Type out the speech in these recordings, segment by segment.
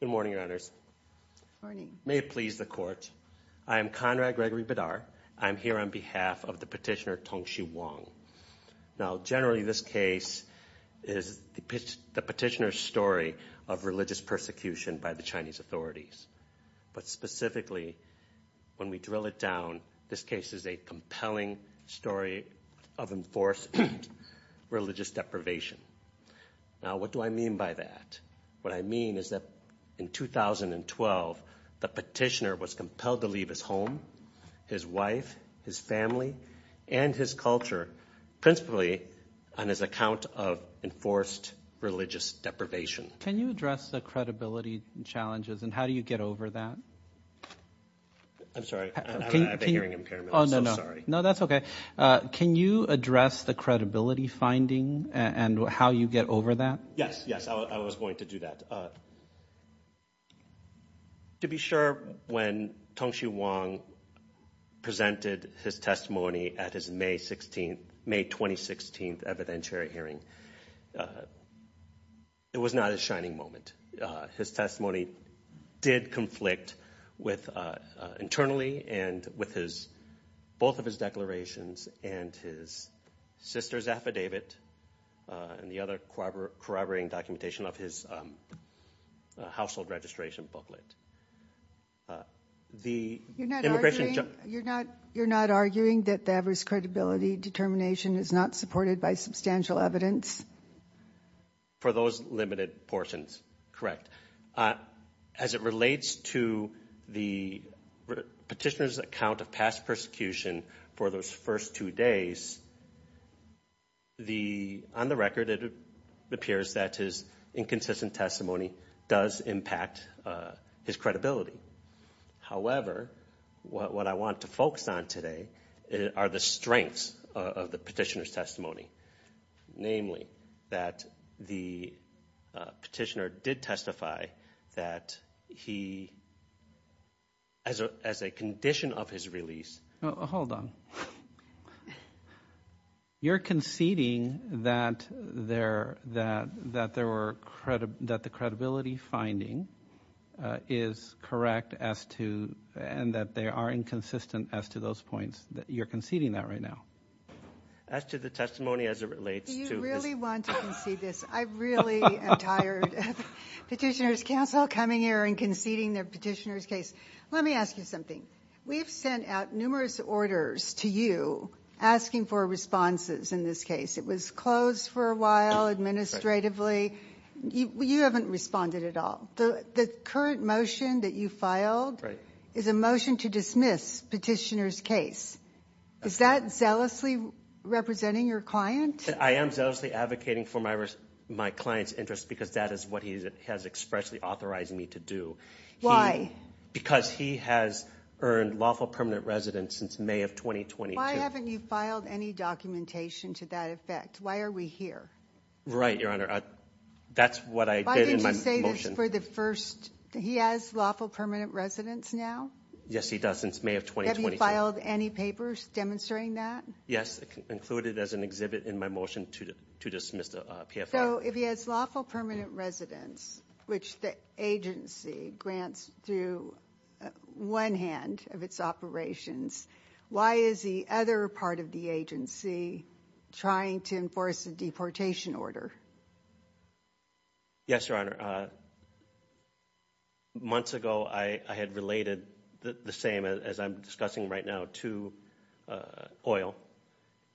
Good morning, Your Honors. Good morning. May it please the Court, I am Conrad Gregory Bedar. I am here on behalf of the petitioner Tongxi Wang. Now generally this case is the petitioner's story of religious persecution by the Chinese authorities, but specifically when we drill it down, this case is a compelling story of enforced religious deprivation. Now what do I mean by that? What I mean is that in 2012 the petitioner was compelled to leave his home, his wife, his family, and his culture principally on his account of enforced religious deprivation. Can you address the credibility challenges and how do you get over that? I'm sorry, I have a hearing impairment. I'm so sorry. No, that's okay. Can you address the credibility finding and how you get over that? Yes, yes, I was going to do that. To be sure, when Tongxi Wang presented his testimony at his May 16th, May 2016th evidentiary hearing, it was not a shining moment. His testimony did conflict internally and with both of his declarations and his sister's affidavit and the other corroborating documentation of his household registration booklet. The immigration judge... You're not arguing that the average credibility determination is not supported by substantial evidence? For those limited portions, correct. As it relates to the petitioner's account of past persecution for those first two days, on the record it appears that his inconsistent testimony does impact his credibility. However, what I want to focus on today are the strengths of the petitioner's testimony, namely that the petitioner did testify that he, as a condition of his release... Hold on. You're conceding that the credibility finding is correct and that they are inconsistent as to those points. You're conceding that right now. As to the testimony as it relates to... Do you really want to concede this? I really am tired of petitioners' counsel coming here and conceding their petitioner's case. Let me ask you something. We've sent out numerous orders to you asking for responses in this case. It was closed for a while administratively. You haven't responded at all. The current motion that you filed is a motion to dismiss petitioner's case. Is that zealously representing your client? I am zealously advocating for my client's interest because that is what he has expressly authorized me to do. Why? Because he has earned lawful permanent residence since May of 2022. Why haven't you filed any documentation to that effect? Why are we here? Right, Your Honor. That's what I did in my motion. Why didn't you say this for the first... He has lawful permanent residence now? Yes, he does, since May of 2022. Have you filed any papers demonstrating that? Yes, included as an exhibit in my motion to dismiss the PFR. So if he has lawful permanent residence, which the agency grants through one hand of its operations, why is the other part of the agency trying to enforce a deportation order? Yes, Your Honor. Months ago, I had related the same, as I'm discussing right now, to oil,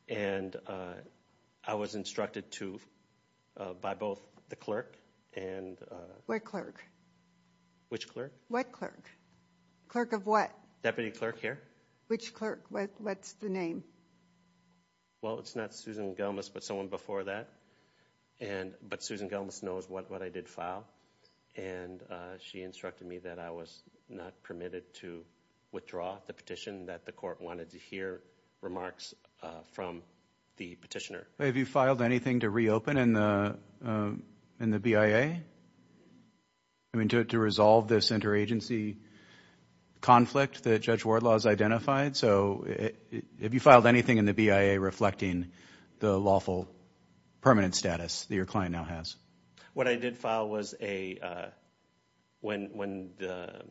and I was instructed to by both the clerk and... What clerk? Which clerk? What clerk? Clerk of what? Deputy clerk here. Which clerk? What's the name? Well, it's not Susan Gelmas, but someone before that. But Susan Gelmas knows what I did file, and she instructed me that I was not permitted to withdraw the petition, that the court wanted to hear remarks from the petitioner. Have you filed anything to reopen in the BIA, I mean, to resolve this interagency conflict that Judge Wardlaw has identified? So have you filed anything in the BIA reflecting the lawful permanent status that your client now has? What I did file was a, when the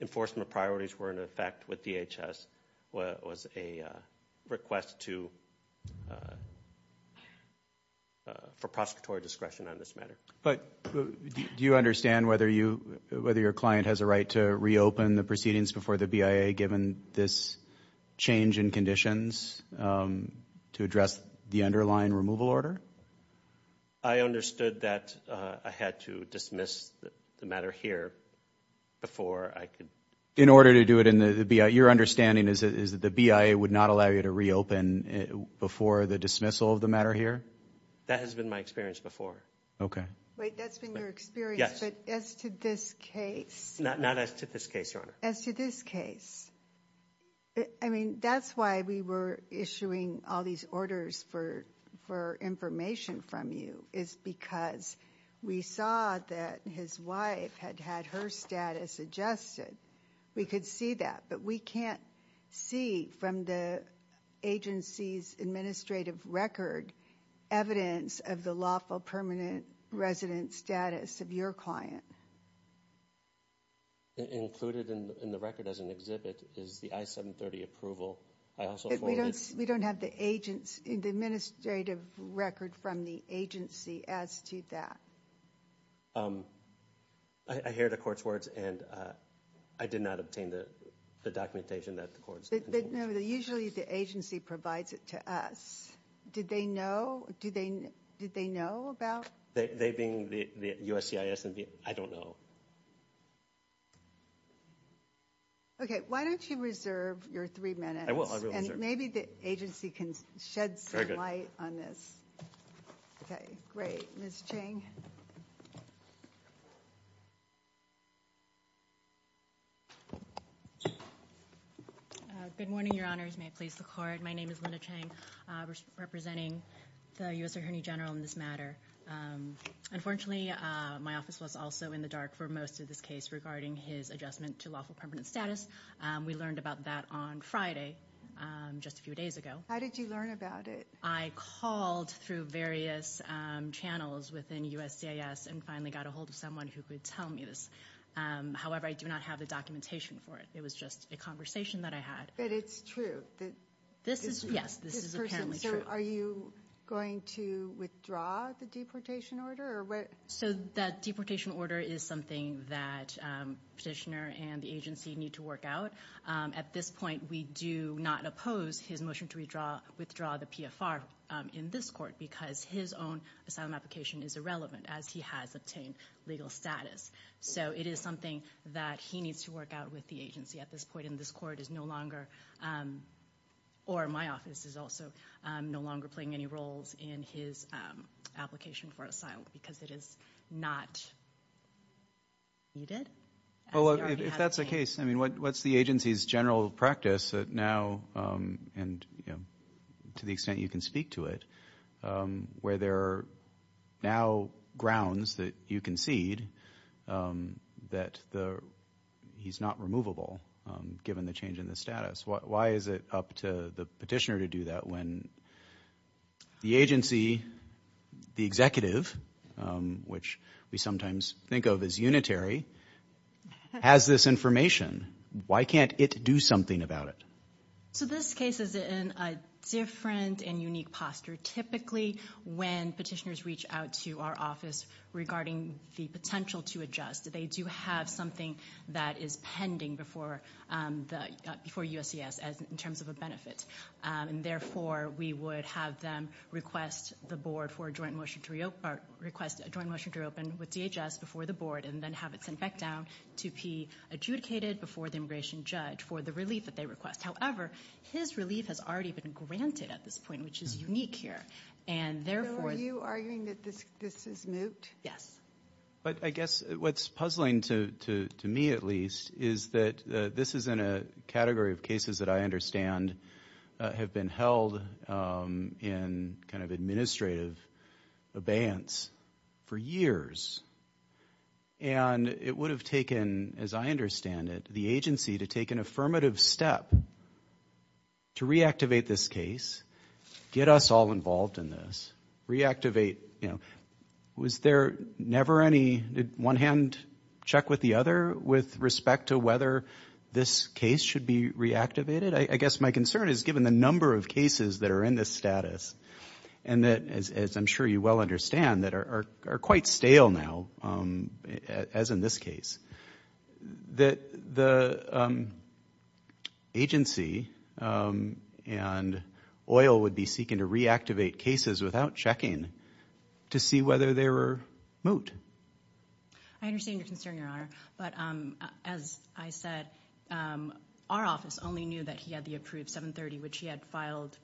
enforcement priorities were in effect with DHS, was a request to, for prosecutorial discretion on this matter. But do you understand whether your client has a right to reopen the proceedings before the BIA given this change in conditions to address the underlying removal order? I understood that I had to dismiss the matter here before I could... In order to do it in the BIA, your understanding is that the BIA would not allow you to reopen before the dismissal of the matter here? That has been my experience before. Wait, that's been your experience, but as to this case... Not as to this case, Your Honor. As to this case. I mean, that's why we were issuing all these orders for information from you, is because we saw that his wife had had her status adjusted. We could see that. But we can't see from the agency's administrative record evidence of the lawful permanent resident status of your client. Included in the record as an exhibit is the I-730 approval. But we don't have the agent's administrative record from the agency as to that. I hear the Court's words, and I did not obtain the documentation that the Court's informed. Usually the agency provides it to us. Did they know about... They being the USCIS? I don't know. Okay. Why don't you reserve your three minutes? And maybe the agency can shed some light on this. Okay. Great. Good morning, Your Honors. May it please the Court. My name is Linda Chang. I was representing the U.S. Attorney General in this matter. Unfortunately, my office was also in the dark for most of this case regarding his adjustment to lawful permanent status. We learned about that on Friday, just a few days ago. How did you learn about it? I called through various channels within USCIS and finally got a hold of someone who could tell me this. However, I do not have the documentation for it. It was just a conversation that I had. But it's true? This is... Yes, this is apparently true. So are you going to withdraw the deportation order? So that deportation order is something that the petitioner and the agency need to work out. At this point, we do not oppose his motion to withdraw the PFR in this court because his own asylum application is irrelevant, as he has obtained legal status. So it is something that he needs to work out with the agency at this point, and this court is no longer, or my office is also no longer, playing any roles in his application for asylum because it is not needed. Well, if that's the case, I mean, what's the agency's general practice that now, and to the extent you can speak to it, where there are now grounds that you concede that he's not removable, given the change in the status. Why is it up to the petitioner to do that when the agency, the executive, which we sometimes think of as unitary, has this information? Why can't it do something about it? So this case is in a different and unique posture. Typically, when petitioners reach out to our office regarding the potential to adjust, they do have something that is pending before USCIS in terms of a benefit, and therefore, we would have them request a joint motion to reopen with DHS before the board and then have it sent back down to be adjudicated before the immigration judge for the relief that they request. However, his relief has already been granted at this point, which is unique here, and therefore So are you arguing that this is moot? Yes. But I guess what's puzzling to me, at least, is that this is in a category of cases that I understand have been held in kind of administrative abeyance for years, and it would have taken, as I understand it, the agency to take an affirmative step to reactivate this case, get us all involved in this, reactivate, you know. Is there never any, did one hand check with the other with respect to whether this case should be reactivated? I guess my concern is, given the number of cases that are in this status, and that, as I'm sure you well understand, that are quite stale now, as in this case, that the agency and OIL would be seeking to reactivate cases without checking to see whether they were moot. I understand your concern, Your Honor, but as I said, our office only knew that he had the approved 730, which he had filed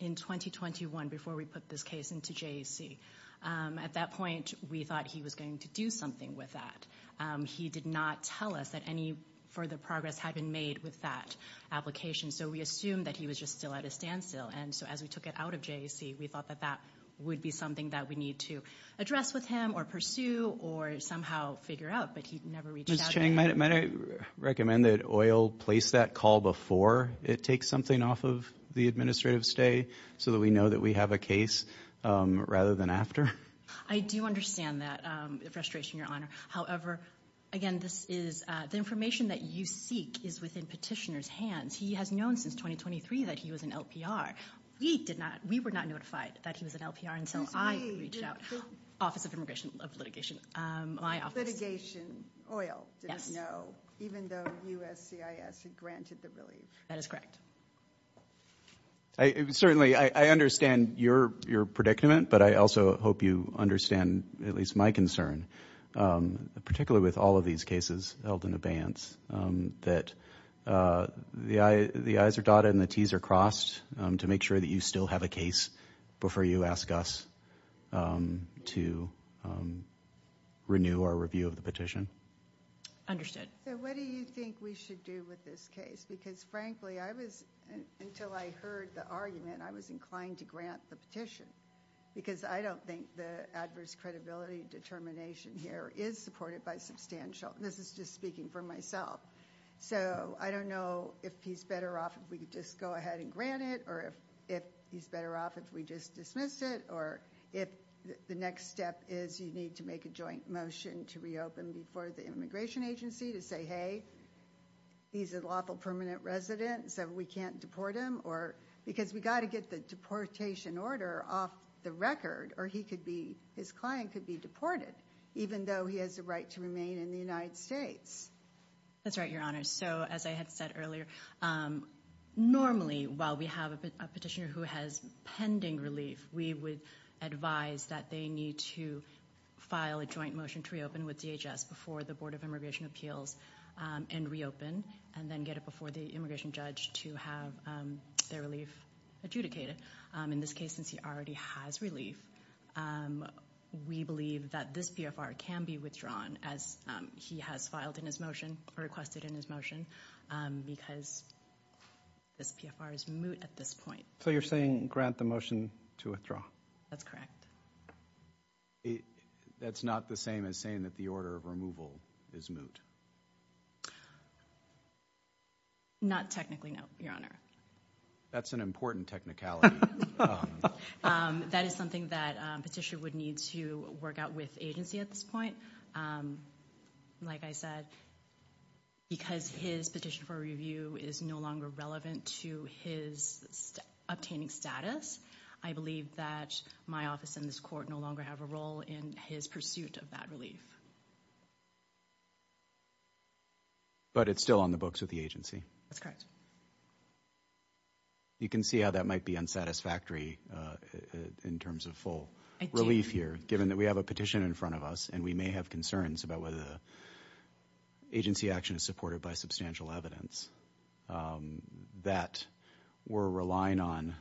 in 2021 before we put this case into JEC. At that point, we thought he was going to do something with that. He did not tell us that any further progress had been made with that application, so we assumed that he was just still at a standstill, and so as we took it out of JEC, we thought that that would be something that we need to address with him, or pursue, or somehow figure out, but he never reached out to us. Ms. Chang, might I recommend that OIL place that call before it takes something off of the administrative stay, so that we know that we have a case rather than after? I do understand that frustration, Your Honor. However, again, this is, the information that you seek is within petitioner's hands. He has known since 2023 that he was in LPR. We did not, we were not notified that he was in LPR until I reached out, Office of Immigration of Litigation, my office. Litigation, OIL did not know, even though USCIS had granted the relief. That is correct. Certainly, I understand your predicament, but I also hope you understand at least my concern, particularly with all of these cases held in abeyance, that the I's are dotted and the T's are crossed to make sure that you still have a case before you ask us to renew our review of the petition. Understood. So, what do you think we should do with this case? Because, frankly, I was, until I heard the argument, I was inclined to grant the petition, because I don't think the adverse credibility determination here is supported by substantial. This is just speaking for myself. So, I don't know if he's better off if we could just go ahead and grant it, or if he's better off if we just dismiss it, or if the next step is you need to make a joint motion to reopen before the immigration agency to say, hey, he's a lawful permanent resident, so we can't deport him, or, because we've got to get the deportation order off the record, or he could be, his client could be deported, even though he has the right to remain in the United States. That's right, Your Honor. So, as I had said earlier, normally, while we have a petitioner who has pending relief, we would advise that they need to file a joint motion to reopen with DHS before the Board of Immigration Appeals, and reopen, and then get it before the immigration judge to have their relief adjudicated. In this case, since he already has relief, we believe that this PFR can be withdrawn, as he has filed in his motion, or requested in his motion, because this PFR is moot at this point. So, you're saying grant the motion to withdraw? That's correct. That's not the same as saying that the order of removal is moot? Not technically, no, Your Honor. That's an important technicality. That is something that a petitioner would need to work out with agency at this point. Like I said, because his petition for review is no longer relevant to his obtaining status, I believe that my office and this court no longer have a role in his pursuit of that relief. But it's still on the books with the agency? That's correct. You can see how that might be unsatisfactory in terms of full relief here, given that we have a petition in front of us, and we may have concerns about whether the agency action is supported by substantial evidence, that we're relying on,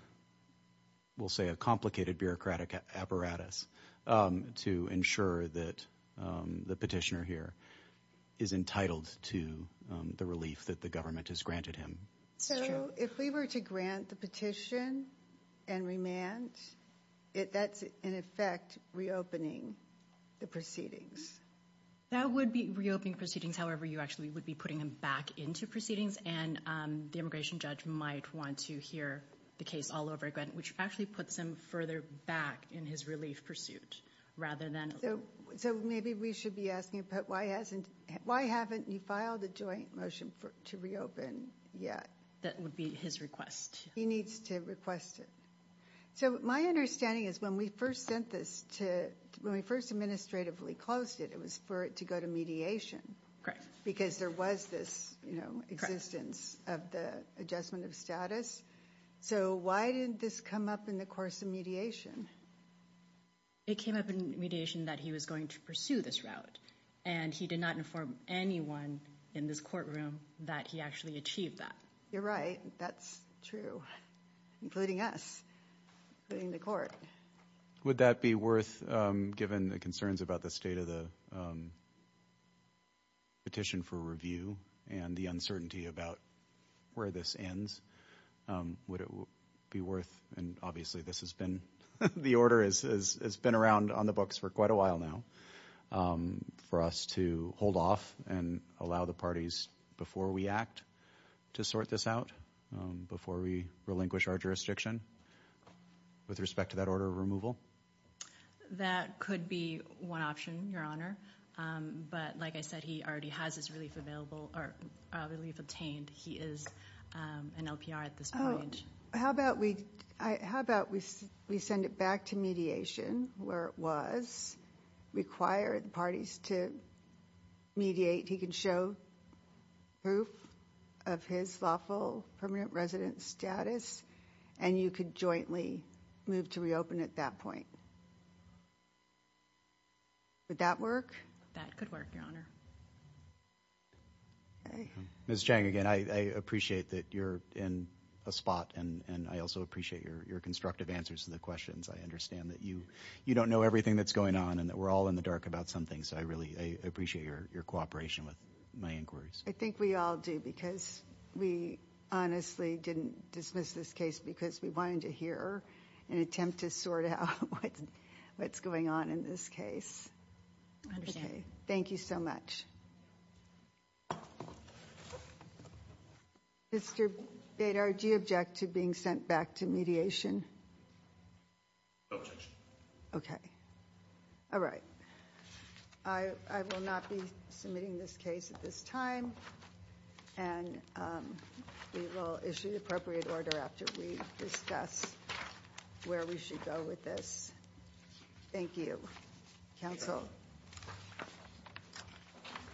we'll say, a complicated bureaucratic apparatus to ensure that the petitioner here is entitled to the relief that the government has granted him. So, if we were to grant the petition and remand, that's in effect reopening the proceedings? That would be reopening proceedings. However, you actually would be putting him back into proceedings, and the immigration judge might want to hear the case all over again, which actually puts him further back in his relief pursuit, rather than... So, maybe we should be asking, but why hasn't... Why haven't you filed a joint motion to reopen yet? That would be his request. He needs to request it. So, my understanding is when we first sent this to... When we first administratively closed it, it was for it to go to mediation, because there was this existence of the adjustment of status. So, why didn't this come up in the course of mediation? It came up in mediation that he was going to pursue this route, and he did not inform anyone in this courtroom that he actually achieved that. You're right. That's true, including us, including the court. Would that be worth, given the concerns about the state of the petition for review, and the uncertainty about where this ends, would it be worth... And obviously, this has been... The order has been around on the books for quite a while now, for us to hold off and allow the parties before we act to sort this out, before we relinquish our jurisdiction, with respect to that order of removal? That could be one option, Your Honor. But, like I said, he already has his relief available, or relief obtained. He is an LPR at this point. How about we send it back to mediation where it was, require the parties to mediate? He can show proof of his lawful permanent resident status, and you could jointly move to reopen at that point. Would that work? That could work, Your Honor. Ms. Chang, again, I appreciate that you're in a spot, and I also appreciate your constructive answers to the questions. I understand that you don't know everything that's going on, and that we're all in the I think we all do, because we honestly didn't dismiss this case because we wanted to hear an attempt to sort out what's going on in this case. I understand. Thank you so much. Mr. Bader, do you object to being sent back to mediation? I object. Okay. All right. I will not be submitting this case at this time, and we will issue the appropriate order after we discuss where we should go with this. Thank you. Counsel.